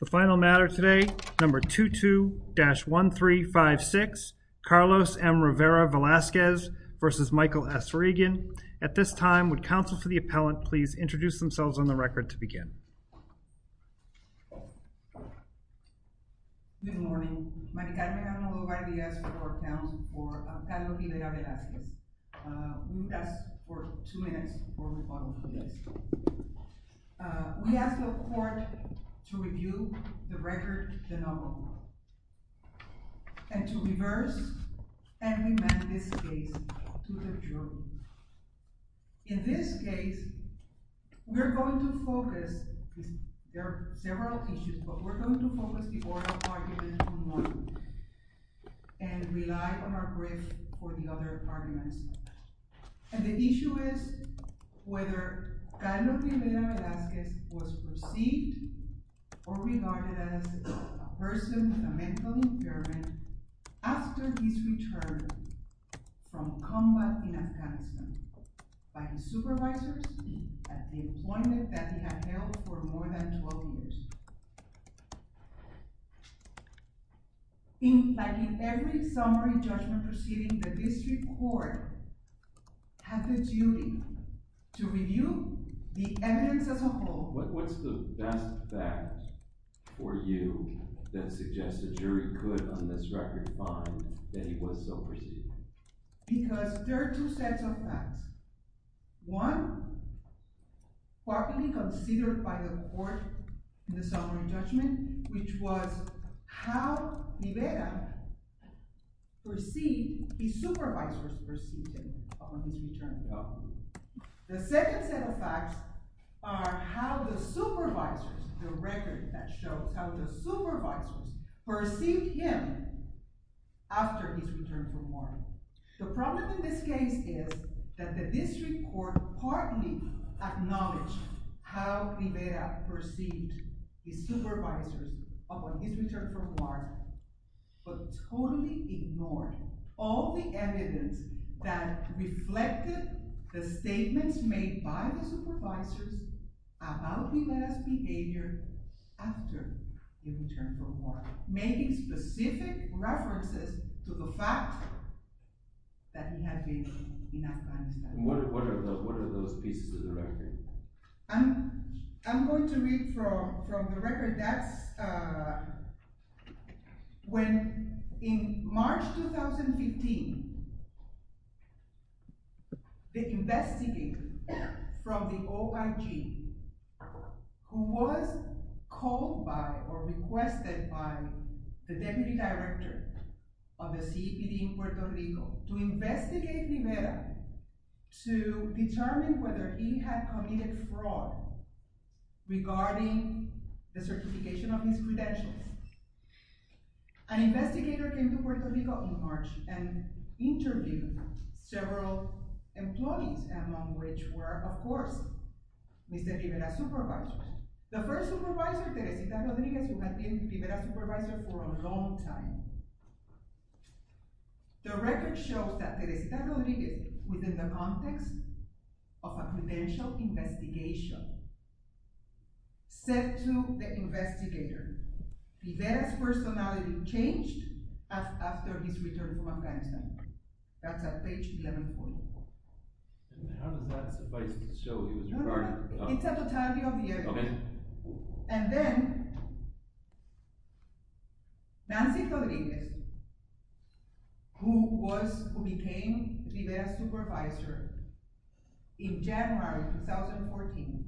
The final matter today, number 22-1356, Carlos M. Rivera-Velazquez v. Michael S. Regan. At this time, would counsel to the appellant please introduce themselves on the record to begin. Good morning. Maricarmen Analova-Villegas for the court of appeals for Carlos M. Rivera-Velazquez. We will rest for two minutes before we move on with the case. We ask the court to review the record, the number one, and to reverse and amend this case to the jury. In this case, we're going to focus, there are several issues, but we're going to focus the oral argument on one and rely on our brief for the other arguments. And the issue is whether Carlos M. Rivera-Velazquez was perceived or regarded as a person with a mental impairment after his return from combat in Afghanistan by his supervisors at the employment that he had held for more than 12 years. Like in every summary judgment proceeding, the district court has the duty to review the evidence as a whole. What's the best fact for you that suggests the jury could, on this record, find that he was so perceived? Because there are two sets of facts. One, what will be considered by the court in the summary judgment, which was how Rivera perceived his supervisors perceived him on his return to the army. The second set of facts are how the supervisors, the record that shows how the supervisors perceived him after his return from war. The problem in this case is that the district court partly acknowledged how Rivera perceived his supervisors upon his return from war, but totally ignored all the evidence that reflected the statements made by the supervisors about Rivera's behavior after his return from war, making specific references to the fact that he had been in Afghanistan. What are those pieces of the record? I'm going to read from the record. That's when, in March 2015, the investigator from the OIG, who was called by or requested by the deputy director of the CEPD in Puerto Rico to investigate Rivera to determine whether he had committed fraud regarding the certification of his credentials. An investigator came to Puerto Rico in March and interviewed several employees, among which were, of course, Mr. Rivera's supervisors. The first supervisor, Teresita Rodriguez, who had been Rivera's supervisor for a long time. The record shows that Teresita Rodriguez, within the context of a credential investigation, said to the investigator, Rivera's personality changed after his return from Afghanistan. That's at page 11.4. And how does that suffice to show he was regarded? It's a totality of the evidence. And then, Nancy Rodriguez, who became Rivera's supervisor in January 2014.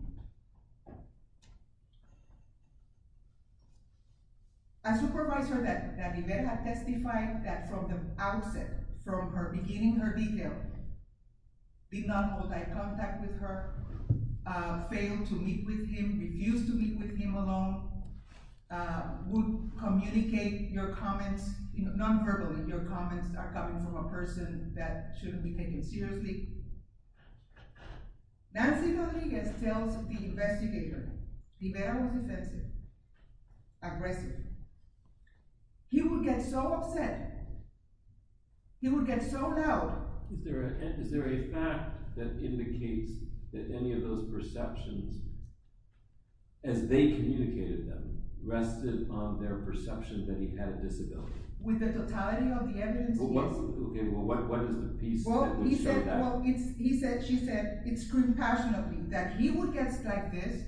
A supervisor that Rivera testified that from the outset, from her beginning, her detail, did not hold eye contact with her, failed to meet with him, refused to meet with him alone, would communicate your comments non-verbally. Your comments are coming from a person that shouldn't be taken seriously. Nancy Rodriguez tells the investigator, Rivera was offensive, aggressive. He would get so upset. He would get so loud. Is there a fact that indicates that any of those perceptions, as they communicated them, rested on their perception that he had a disability? With the totality of the evidence, yes. Okay, well, what is the piece that would show that? Well, he said, she said, it's compassionate of him that he would get like this,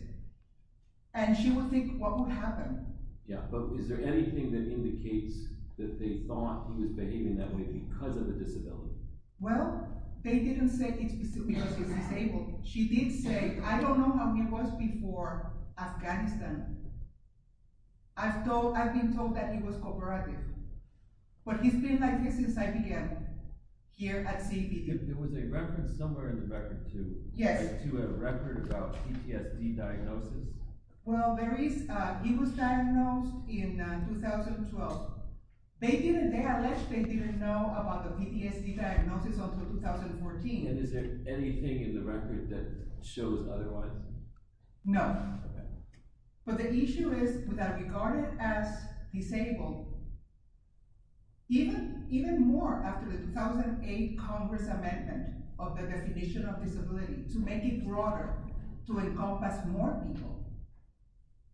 and she would think, what would happen? Yeah, but is there anything that indicates that they thought he was behaving that way because of the disability? Well, they didn't say it's because he's disabled. She did say, I don't know how he was before Afghanistan. I've been told that he was cooperative. But he's been like this since I began here at CV. There was a reference somewhere in the record, too. Yes. To a record about PTSD diagnosis. Well, there is. He was diagnosed in 2012. They allege they didn't know about the PTSD diagnosis until 2014. And is there anything in the record that shows otherwise? No. Okay. But the issue is that regarded as disabled, even more after the 2008 Congress amendment of the definition of disability, to make it broader, to encompass more people,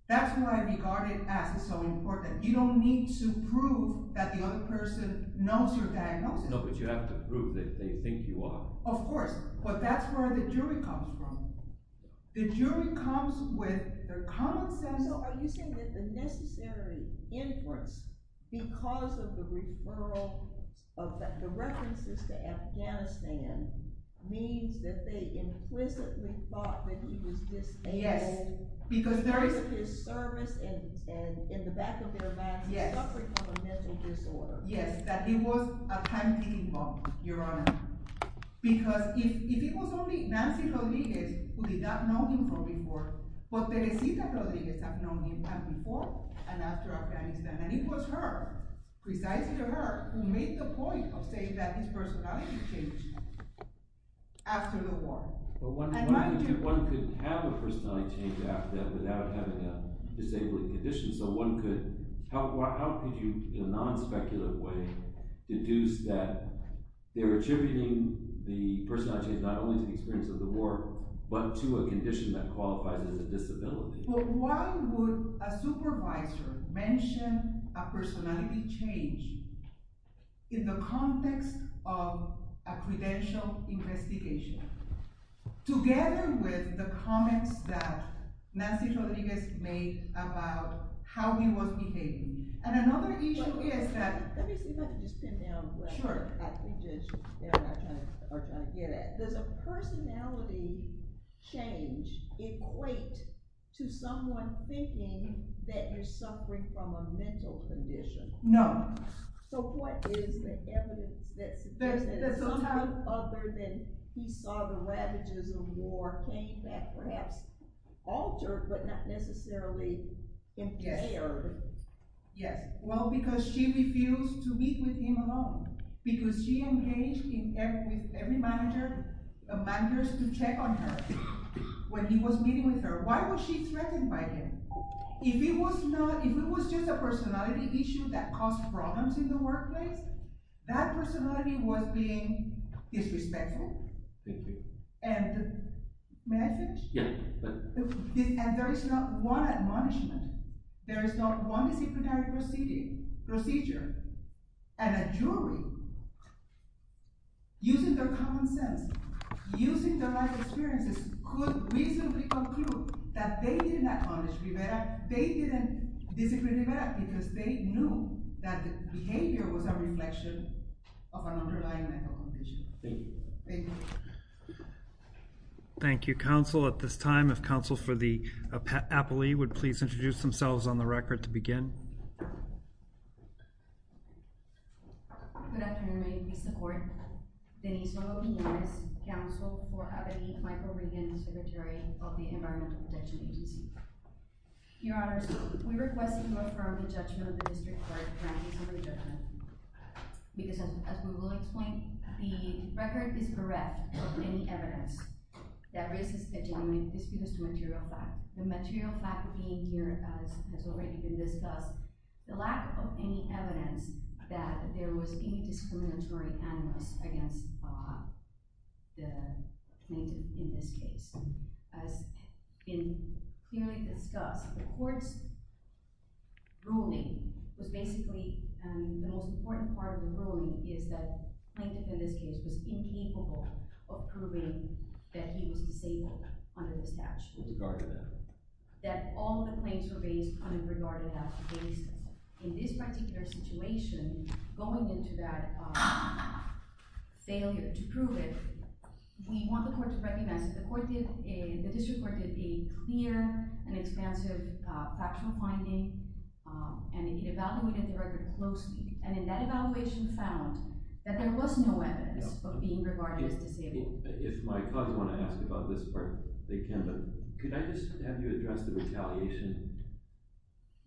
that's why regarded as is so important. You don't need to prove that the other person knows your diagnosis. No, but you have to prove that they think you are. Of course. But that's where the jury comes from. The jury comes with their common sense. So are you saying that the necessary inference, because of the referral, of the references to Afghanistan, means that they implicitly thought that he was disabled? Yes. Because of his service and in the back of their minds, suffering from a mental disorder. Yes, that he was a time-kicking bomb, Your Honor. Because if it was only Nancy Rodriguez who did not know him from before, but Teresita Rodriguez had known him before and after Afghanistan, and it was her, precisely her, who made the point of saying that his personality changed after the war. But one could have a personality change after that without having a disabling condition, so how could you, in a non-speculative way, deduce that they were attributing the personality change not only to the experience of the war, but to a condition that qualifies as a disability? Well, why would a supervisor mention a personality change in the context of a credential investigation, together with the comments that Nancy Rodriguez made about how he was behaving? And another issue is that... Let me see if I can just pin down where I think that we just are trying to get at. Does a personality change equate to someone thinking that you're suffering from a mental condition? No. So what is the evidence that something other than he saw the ravages of war came back, perhaps altered, but not necessarily impaired? Yes. Well, because she refused to meet with him alone. Because she engaged with every manager to check on her when he was meeting with her. Why was she threatened by him? If it was just a personality issue that caused problems in the workplace, that personality was being disrespectful. Thank you. And may I finish? Yes. And there is not one admonishment, there is not one disciplinary procedure, and a jury, using their common sense, using their life experiences, could reasonably conclude that they didn't acknowledge Rivera, they didn't disagree with Rivera because they knew that the behavior was a reflection of an underlying mental condition. Thank you. Thank you. Thank you, counsel. At this time, if counsel for the appellee would please introduce themselves on the record to begin. Good afternoon. Good afternoon. Please support Denise Rodriguez, counsel for Appellee Michael Riggins, secretary of the Environmental Protection Agency. Your honors, we request that you affirm the judgment of the district court granted for the judgment. Because as we will explain, the record is correct. Any evidence that raises a genuine dispute is a material fact. The material fact being here has already been discussed. The lack of any evidence that there was any discriminatory animus against the plaintiff in this case has been clearly discussed. The court's ruling was basically the most important part of the ruling is that the plaintiff in this case was incapable of proving that he was disabled under the statute. That all the claims were based on a regarded-as basis. In this particular situation, going into that failure to prove it, we want the court to recognize that the district court did a clear and expansive factual finding, and it evaluated the record closely, and in that evaluation found that there was no evidence of being regarded as disabled. If my cousins want to ask about this part, they can, but could I just have you address the retaliation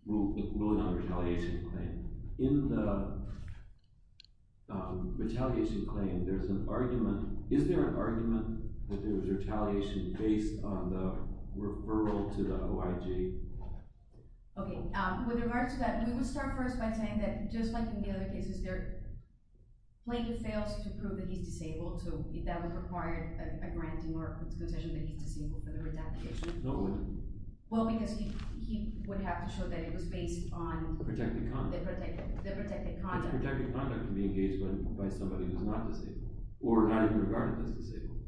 ruling on the retaliation claim? In the retaliation claim, is there an argument that there was retaliation based on the referral to the OIG? Okay. With regards to that, we will start first by saying that, just like in the other cases, the plaintiff fails to prove that he's disabled, so that would require a granting or a concession that he's disabled for the retaliation. No, it wouldn't. Well, because he would have to show that it was based on… Protected conduct. …the protected conduct. The protected conduct can be engaged by somebody who's not disabled or not even regarded as disabled.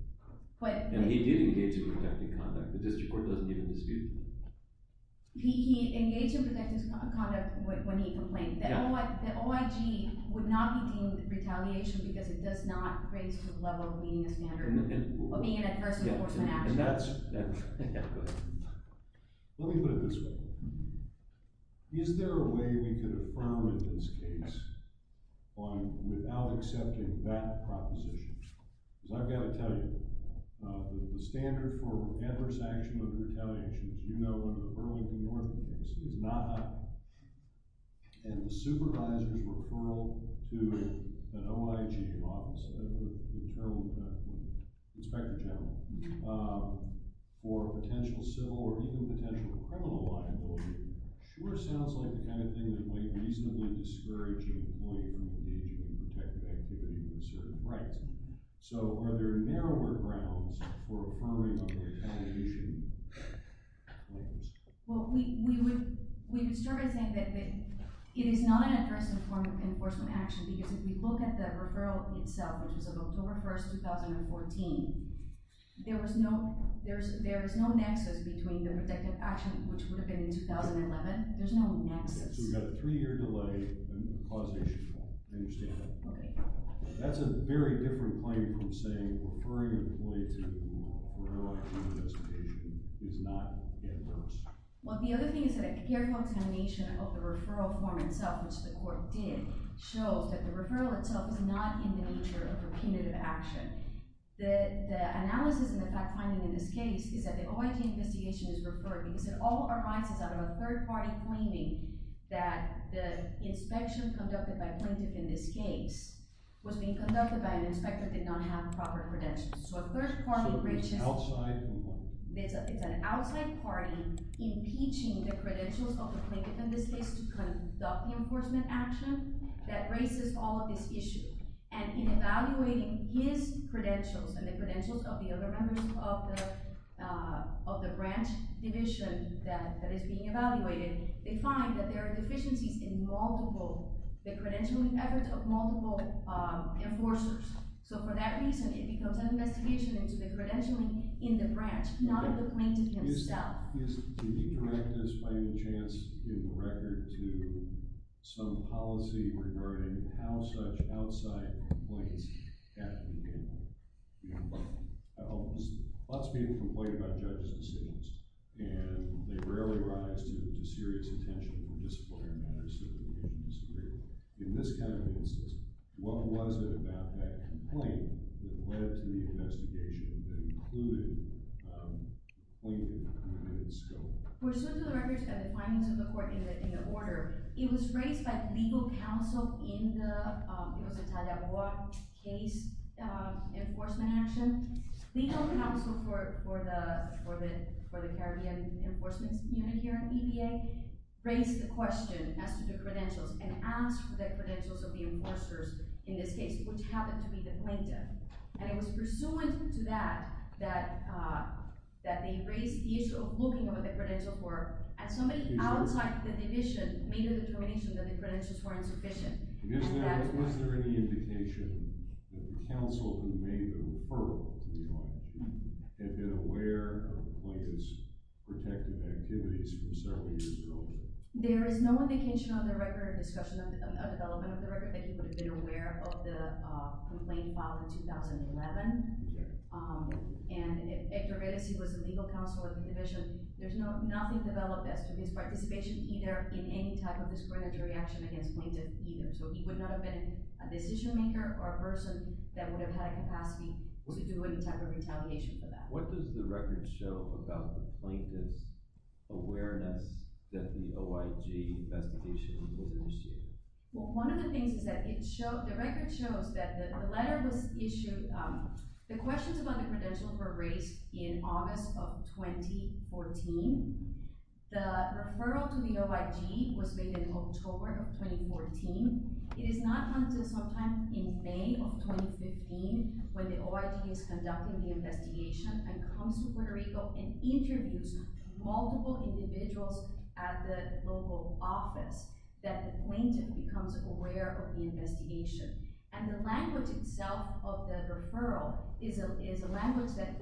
But… And he did engage in protected conduct. The district court doesn't even dispute that. He engaged in protected conduct when he complained. Yeah. The OIG would not be deemed retaliation because it does not raise to the level of meeting a standard of being an adverse enforcement action. And that's… Yeah, go ahead. Let me put it this way. Is there a way we could affirm in this case without accepting that proposition? Because I've got to tell you, the standard for adverse action under retaliation, as you know, under the Burlington North case, is not up. And the supervisor's referral to an OIG office, the term Inspector General, for potential civil or even potential criminal liability sure sounds like the kind of thing that might reasonably discourage an employee from engaging in protected activity with certain rights. So are there narrower grounds for referring under retaliation? Well, we would start by saying that it is not an adverse enforcement action because if we look at the referral itself, which is of October 1st, 2014, there is no nexus between the protected action, which would have been in 2011. There's no nexus. So we've got a three-year delay and a causation. I understand that. Okay. That's a very different claim from saying referring an employee to an OIG investigation is not adverse. Well, the other thing is that a careful examination of the referral form itself, which the court did, shows that the referral itself is not in the nature of repetitive action. The analysis and the fact-finding in this case is that the OIG investigation is referred because it all arises out of a third-party claiming that the inspection conducted by a plaintiff in this case was being conducted by an inspector that did not have proper credentials. So a third-party breach is an outside party impeaching the credentials of the plaintiff in this case to conduct the enforcement action that raises all of this issue. And in evaluating his credentials and the credentials of the other members of the branch division that is being evaluated, they find that there are deficiencies in the credentialing effort of multiple enforcers. So for that reason, it becomes an investigation into the credentialing in the branch, not of the plaintiff himself. Yes. Can you direct this, by any chance, in the record to some policy regarding how such outside complaints have to be handled? Lots of people complain about judges' decisions, and they rarely rise to serious attention or disciplinary matters so that they can disagree. In this kind of incident, what was it about that complaint that led to the investigation that included the plaintiff and included the scope? For suit to the records and the findings of the court in the order, it was raised by legal counsel in the Talagua case enforcement action. Legal counsel for the Caribbean Enforcement Unit here at the EPA raised the question as to the credentials and asked for the credentials of the enforcers in this case, which happened to be the plaintiff. And it was pursuant to that that they raised the issue of looking at what the credentials were, and somebody outside the division made a determination that the credentials were insufficient. Was there any indication that the counsel who made the referral had been aware of Plaintiff's protective activities from several years ago? There is no indication on the record, discussion of the development of the record, that he would have been aware of the complaint filed in 2011. And if Hector Redesi was the legal counsel of the division, there's nothing developed as to his participation either in any type of discriminatory action against Plaintiff either. So he would not have been a decision-maker or a person that would have had a capacity to do any type of retaliation for that. What does the record show about the plaintiff's awareness that the OIG investigation was initiated? Well, one of the things is that the record shows that the letter was issued. The questions about the credentials were raised in August of 2014. The referral to the OIG was made in October of 2014. It is not until sometime in May of 2015 when the OIG is conducting the investigation and comes to Puerto Rico and interviews multiple individuals at the local office that the plaintiff becomes aware of the investigation. And the language itself of the referral is a language that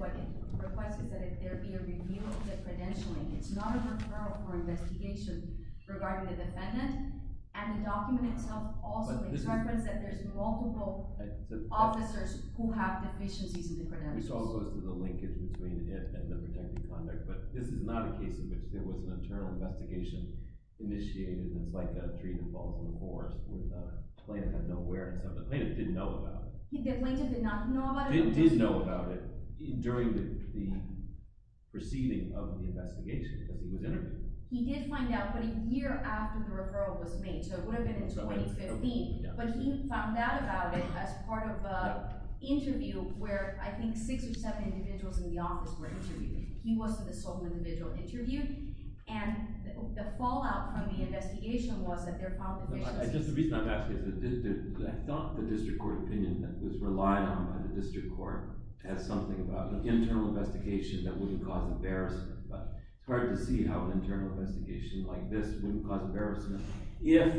requests that there be a review of the credentialing. It's not a referral for investigation regarding the defendant. And the document itself also determines that there's multiple officers who have deficiencies in the credentials. Which all goes to the linkage between it and the protected conduct. But this is not a case in which there was an internal investigation initiated and it's like a tree that falls in the forest. The plaintiff had no awareness of it. The plaintiff didn't know about it. The plaintiff did not know about it? He did know about it during the proceeding of the investigation as he was interviewed. He did find out, but a year after the referral was made. So it would have been in 2015. But he found out about it as part of an interview where I think six or seven individuals in the office were interviewed. He wasn't the sole individual interviewed. And the fallout from the investigation was that there found deficiencies. Just the reason I'm asking is that I thought the district court opinion that was relied on by the district court as something about an internal investigation that wouldn't cause embarrassment. But it's hard to see how an internal investigation like this wouldn't cause embarrassment if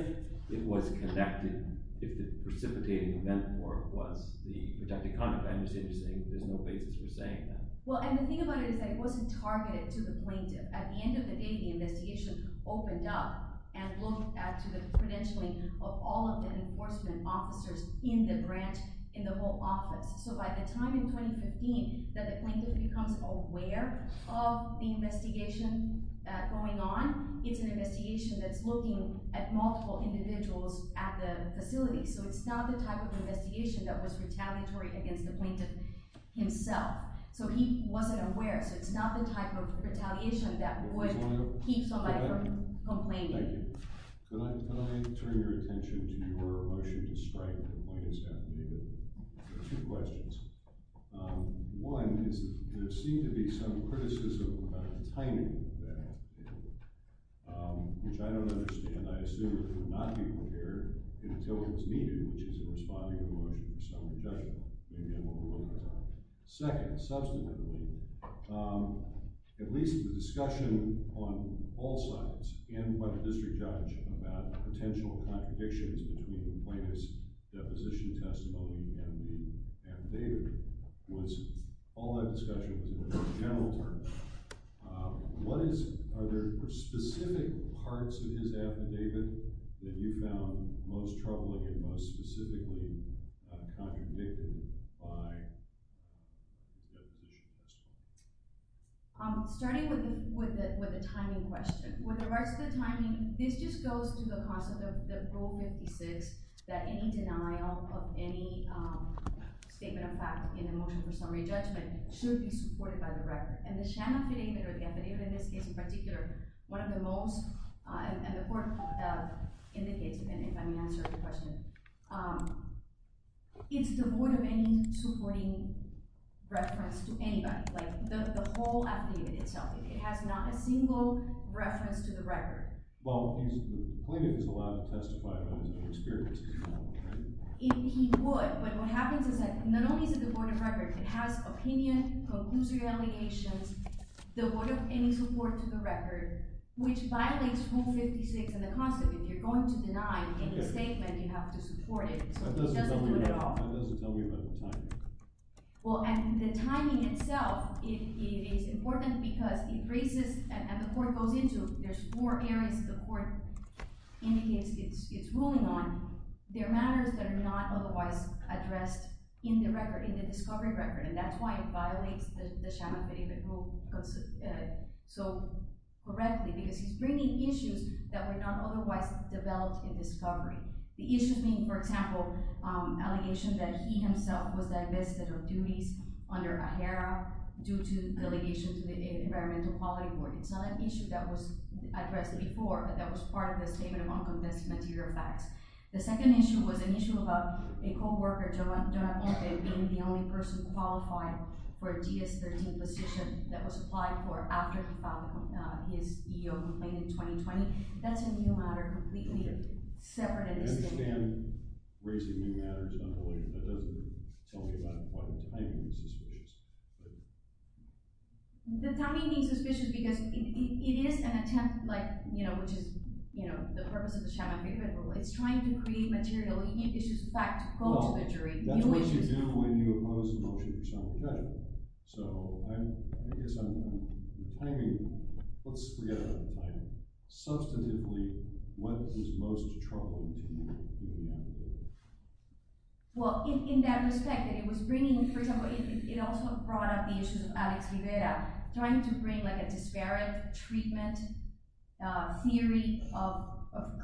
it was connected, if the precipitating event was the protected conduct. I understand you're saying there's no basis for saying that. Well, and the thing about it is that it wasn't targeted to the plaintiff. At the end of the day, the investigation opened up and looked at the credentialing of all of the enforcement officers in the branch, in the whole office. So by the time in 2015 that the plaintiff becomes aware of the investigation going on, it's an investigation that's looking at multiple individuals at the facility. So it's not the type of investigation that was retaliatory against the plaintiff himself. So he wasn't aware. So it's not the type of retaliation that would keep somebody from complaining. Thank you. Can I turn your attention to your motion to strike against Two questions. One is there seem to be some criticism about the timing of that, which I don't understand. I assume it would not be prepared until it was needed, which is in responding to the motion of summary judgment. Maybe I'm overlooking something. Second, subsequently, at least the discussion on all sides, and by the district judge, about potential contradictions between the plaintiff's deposition testimony and the affidavit, was all that discussion was in general terms. Are there specific parts of his affidavit that you found most troubling and most specifically contradicted by the deposition testimony? Starting with the timing question. With the rest of the timing, this just goes through the process of that any denial of any statement of fact in the motion for summary judgment should be supported by the record. And the sham affidavit, or the affidavit in this case in particular, one of the most, and the court indicates, if I may answer your question, it's devoid of any supporting reference to anybody, like the whole affidavit itself. It has not a single reference to the record. Well, the plaintiff is allowed to testify about his own experience. He would, but what happens is that not only is it the board of records, it has opinion, conclusive allegations, devoid of any support to the record, which violates rule 56 and the concept. If you're going to deny any statement, you have to support it. So it doesn't do it at all. That doesn't tell me about the timing. Well, and the timing itself is important because it raises, and the court goes into, there's four areas the court indicates it's ruling on. They're matters that are not otherwise addressed in the discovery record, and that's why it violates the sham affidavit rule so correctly, because he's bringing issues that were not otherwise developed in discovery. The issues being, for example, allegations that he himself was divested of duties under AHERA due to delegation to the Environmental Quality Board. It's not an issue that was addressed before, but that was part of the Statement of Uncompensated Material Facts. The second issue was an issue about a co-worker, Jonah Orte, being the only person qualified for a GS-13 position that was applied for after he filed his EO complaint in 2020. That's a new matter completely separate in this case. I understand raising new matters, but that doesn't tell me about why the timing is suspicious. The timing is suspicious because it is an attempt, which is the purpose of the sham affidavit rule. It's trying to create material issues of fact to quote to the jury. That's what you do when you oppose the motion of your sample judgment. Let's forget about the timing. Substantively, what is most troubling to you? In that respect, it also brought up the issue of Alex Rivera trying to bring a disparate treatment theory of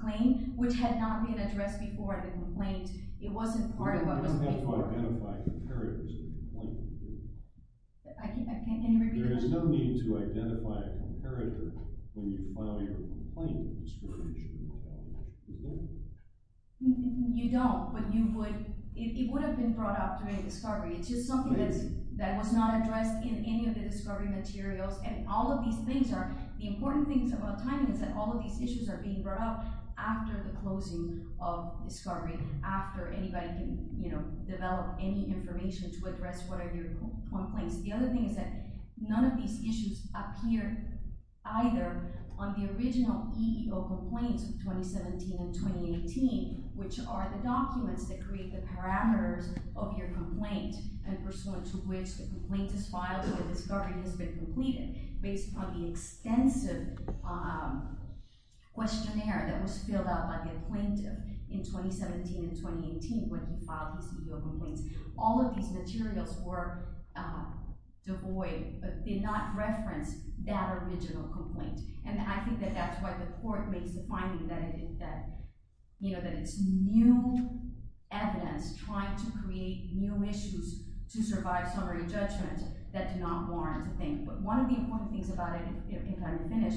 claim, which had not been addressed before the complaint. It wasn't part of what was being... You don't have to identify comparators in the complaint. Can you repeat that? There is no need to identify a comparator when you file your complaint in a disparate issue. You don't, but it would have been brought up during discovery. It's just something that was not addressed in any of the discovery materials. And all of these things are... The important thing about timing is that all of these issues are being brought up after the closing of discovery, after anybody can develop any information to address what are your complaints. The other thing is that none of these issues appear either on the original EEO complaints of 2017 and 2018, which are the documents that create the parameters of your complaint and pursuant to which the complaint is filed or the discovery has been completed, based on the extensive questionnaire that was filled out by the plaintiff in 2017 and 2018 when you filed these EEO complaints. All of these materials were devoid, did not reference that original complaint. And I think that that's why the court makes the finding that it's new evidence trying to create new issues to survive summary judgment that do not warrant a thing. But one of the important things about it, if I can finish,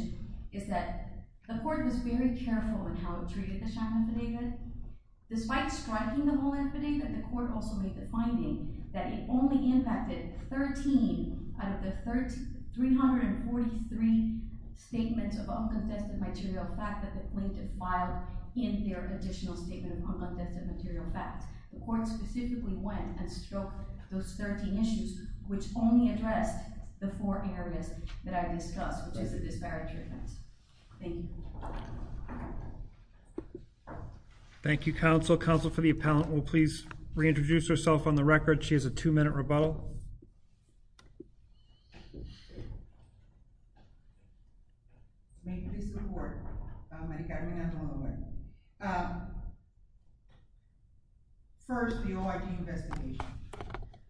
is that the court was very careful in how it treated the Shacklin Fidega. Despite striking the whole Fidega, the court also made the finding that it only impacted 13 out of the 343 statements of uncontested material fact that the plaintiff filed in their additional statement of uncontested material facts. The court specifically went and struck those 13 issues, which only addressed the four areas that I discussed, which is the disparate treatments. Thank you. Thank you, counsel. Counsel for the appellant will please reintroduce herself on the record. She has a two-minute rebuttal. First, the OID investigation.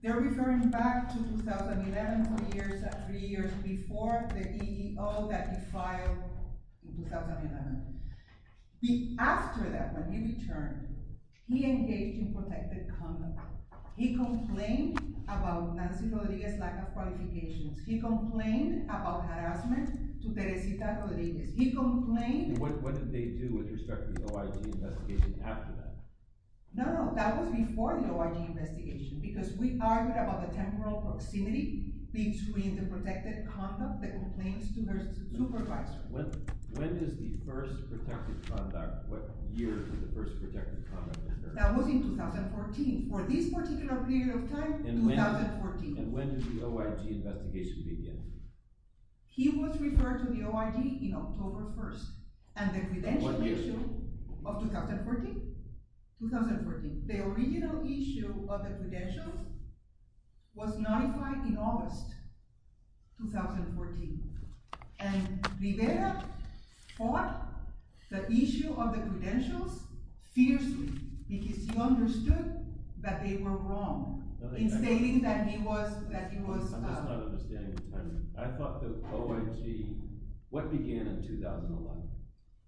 They're referring back to 2011, three years before the EEO that he filed in 2011. After that, when he returned, he engaged in protected conduct. He complained about Nancy Rodriguez's lack of qualifications. He complained about harassment to Teresita Rodriguez. He complained... What did they do with respect to the OID investigation after that? No, no, that was before the OID investigation, because we argued about the temporal proximity between the protected conduct, the complaints to her supervisor. When is the first protected conduct? What year was the first protected conduct? That was in 2014. For this particular period of time, 2014. And when did the OID investigation begin? He was referred to the OID in October 1st. And the credential issue of 2014? 2014. The original issue of the credentials was notified in August 2014. And Rivera fought the issue of the credentials fiercely, because he understood that they were wrong, in stating that he was... I'm just not understanding the timing. I thought the OID... What began in 2011?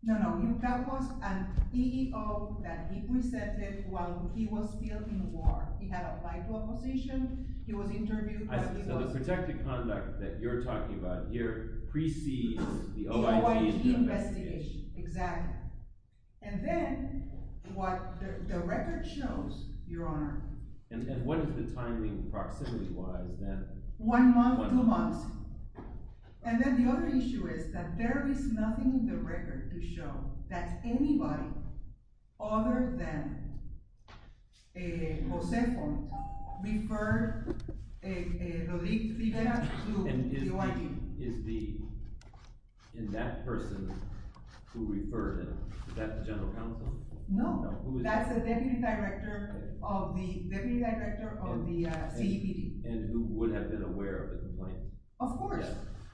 No, no, that was an EEO that he presented while he was still in the war. He had applied to a position, he was interviewed... So the protected conduct that you're talking about here precedes the OID investigation? The OID investigation, exactly. And then, what the record shows, Your Honor... And what is the timing, proximity-wise, then? One month, two months. to show that anybody other than José Font referred Rodríguez Rivera to the OID. And is the... And that person who referred him, is that the general counsel? No. That's the deputy director of the CEPD. And who would have been aware of the complaint? Of course.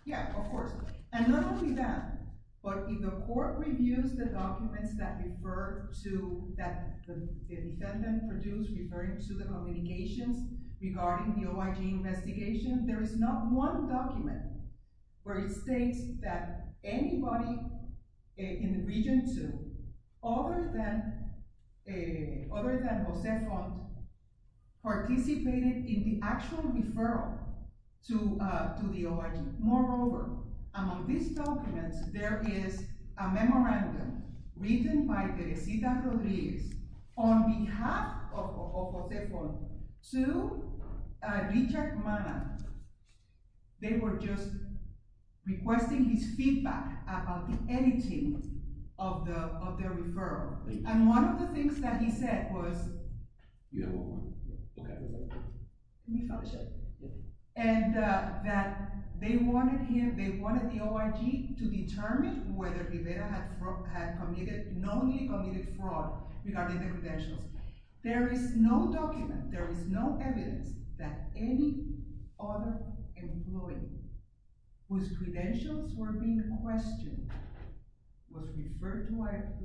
Yeah, of course. And not only that, but if the court reviews the documents that refer to... that the defendant produced referring to the communications regarding the OID investigation, there is not one document where it states that anybody in Region 2 other than José Font participated in the actual referral to the OID. Moreover, among these documents, there is a memorandum written by Teresita Rodríguez on behalf of José Font to Richard Mana. They were just requesting his feedback about the editing of the referral. And one of the things that he said was... You have one more. Okay. Let me finish it. And that they wanted the OID to determine whether Rivera had knownly committed fraud regarding the credentials. There is no document, there is no evidence, that any other employee whose credentials were being questioned was referred to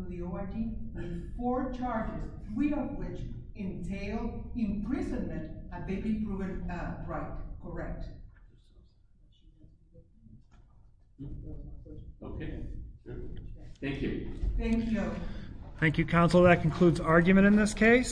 the OID before charges, three of which entail imprisonment of David Brewer Wright. Correct. Okay. Thank you. Thank you. Thank you, counsel. That concludes argument in this case.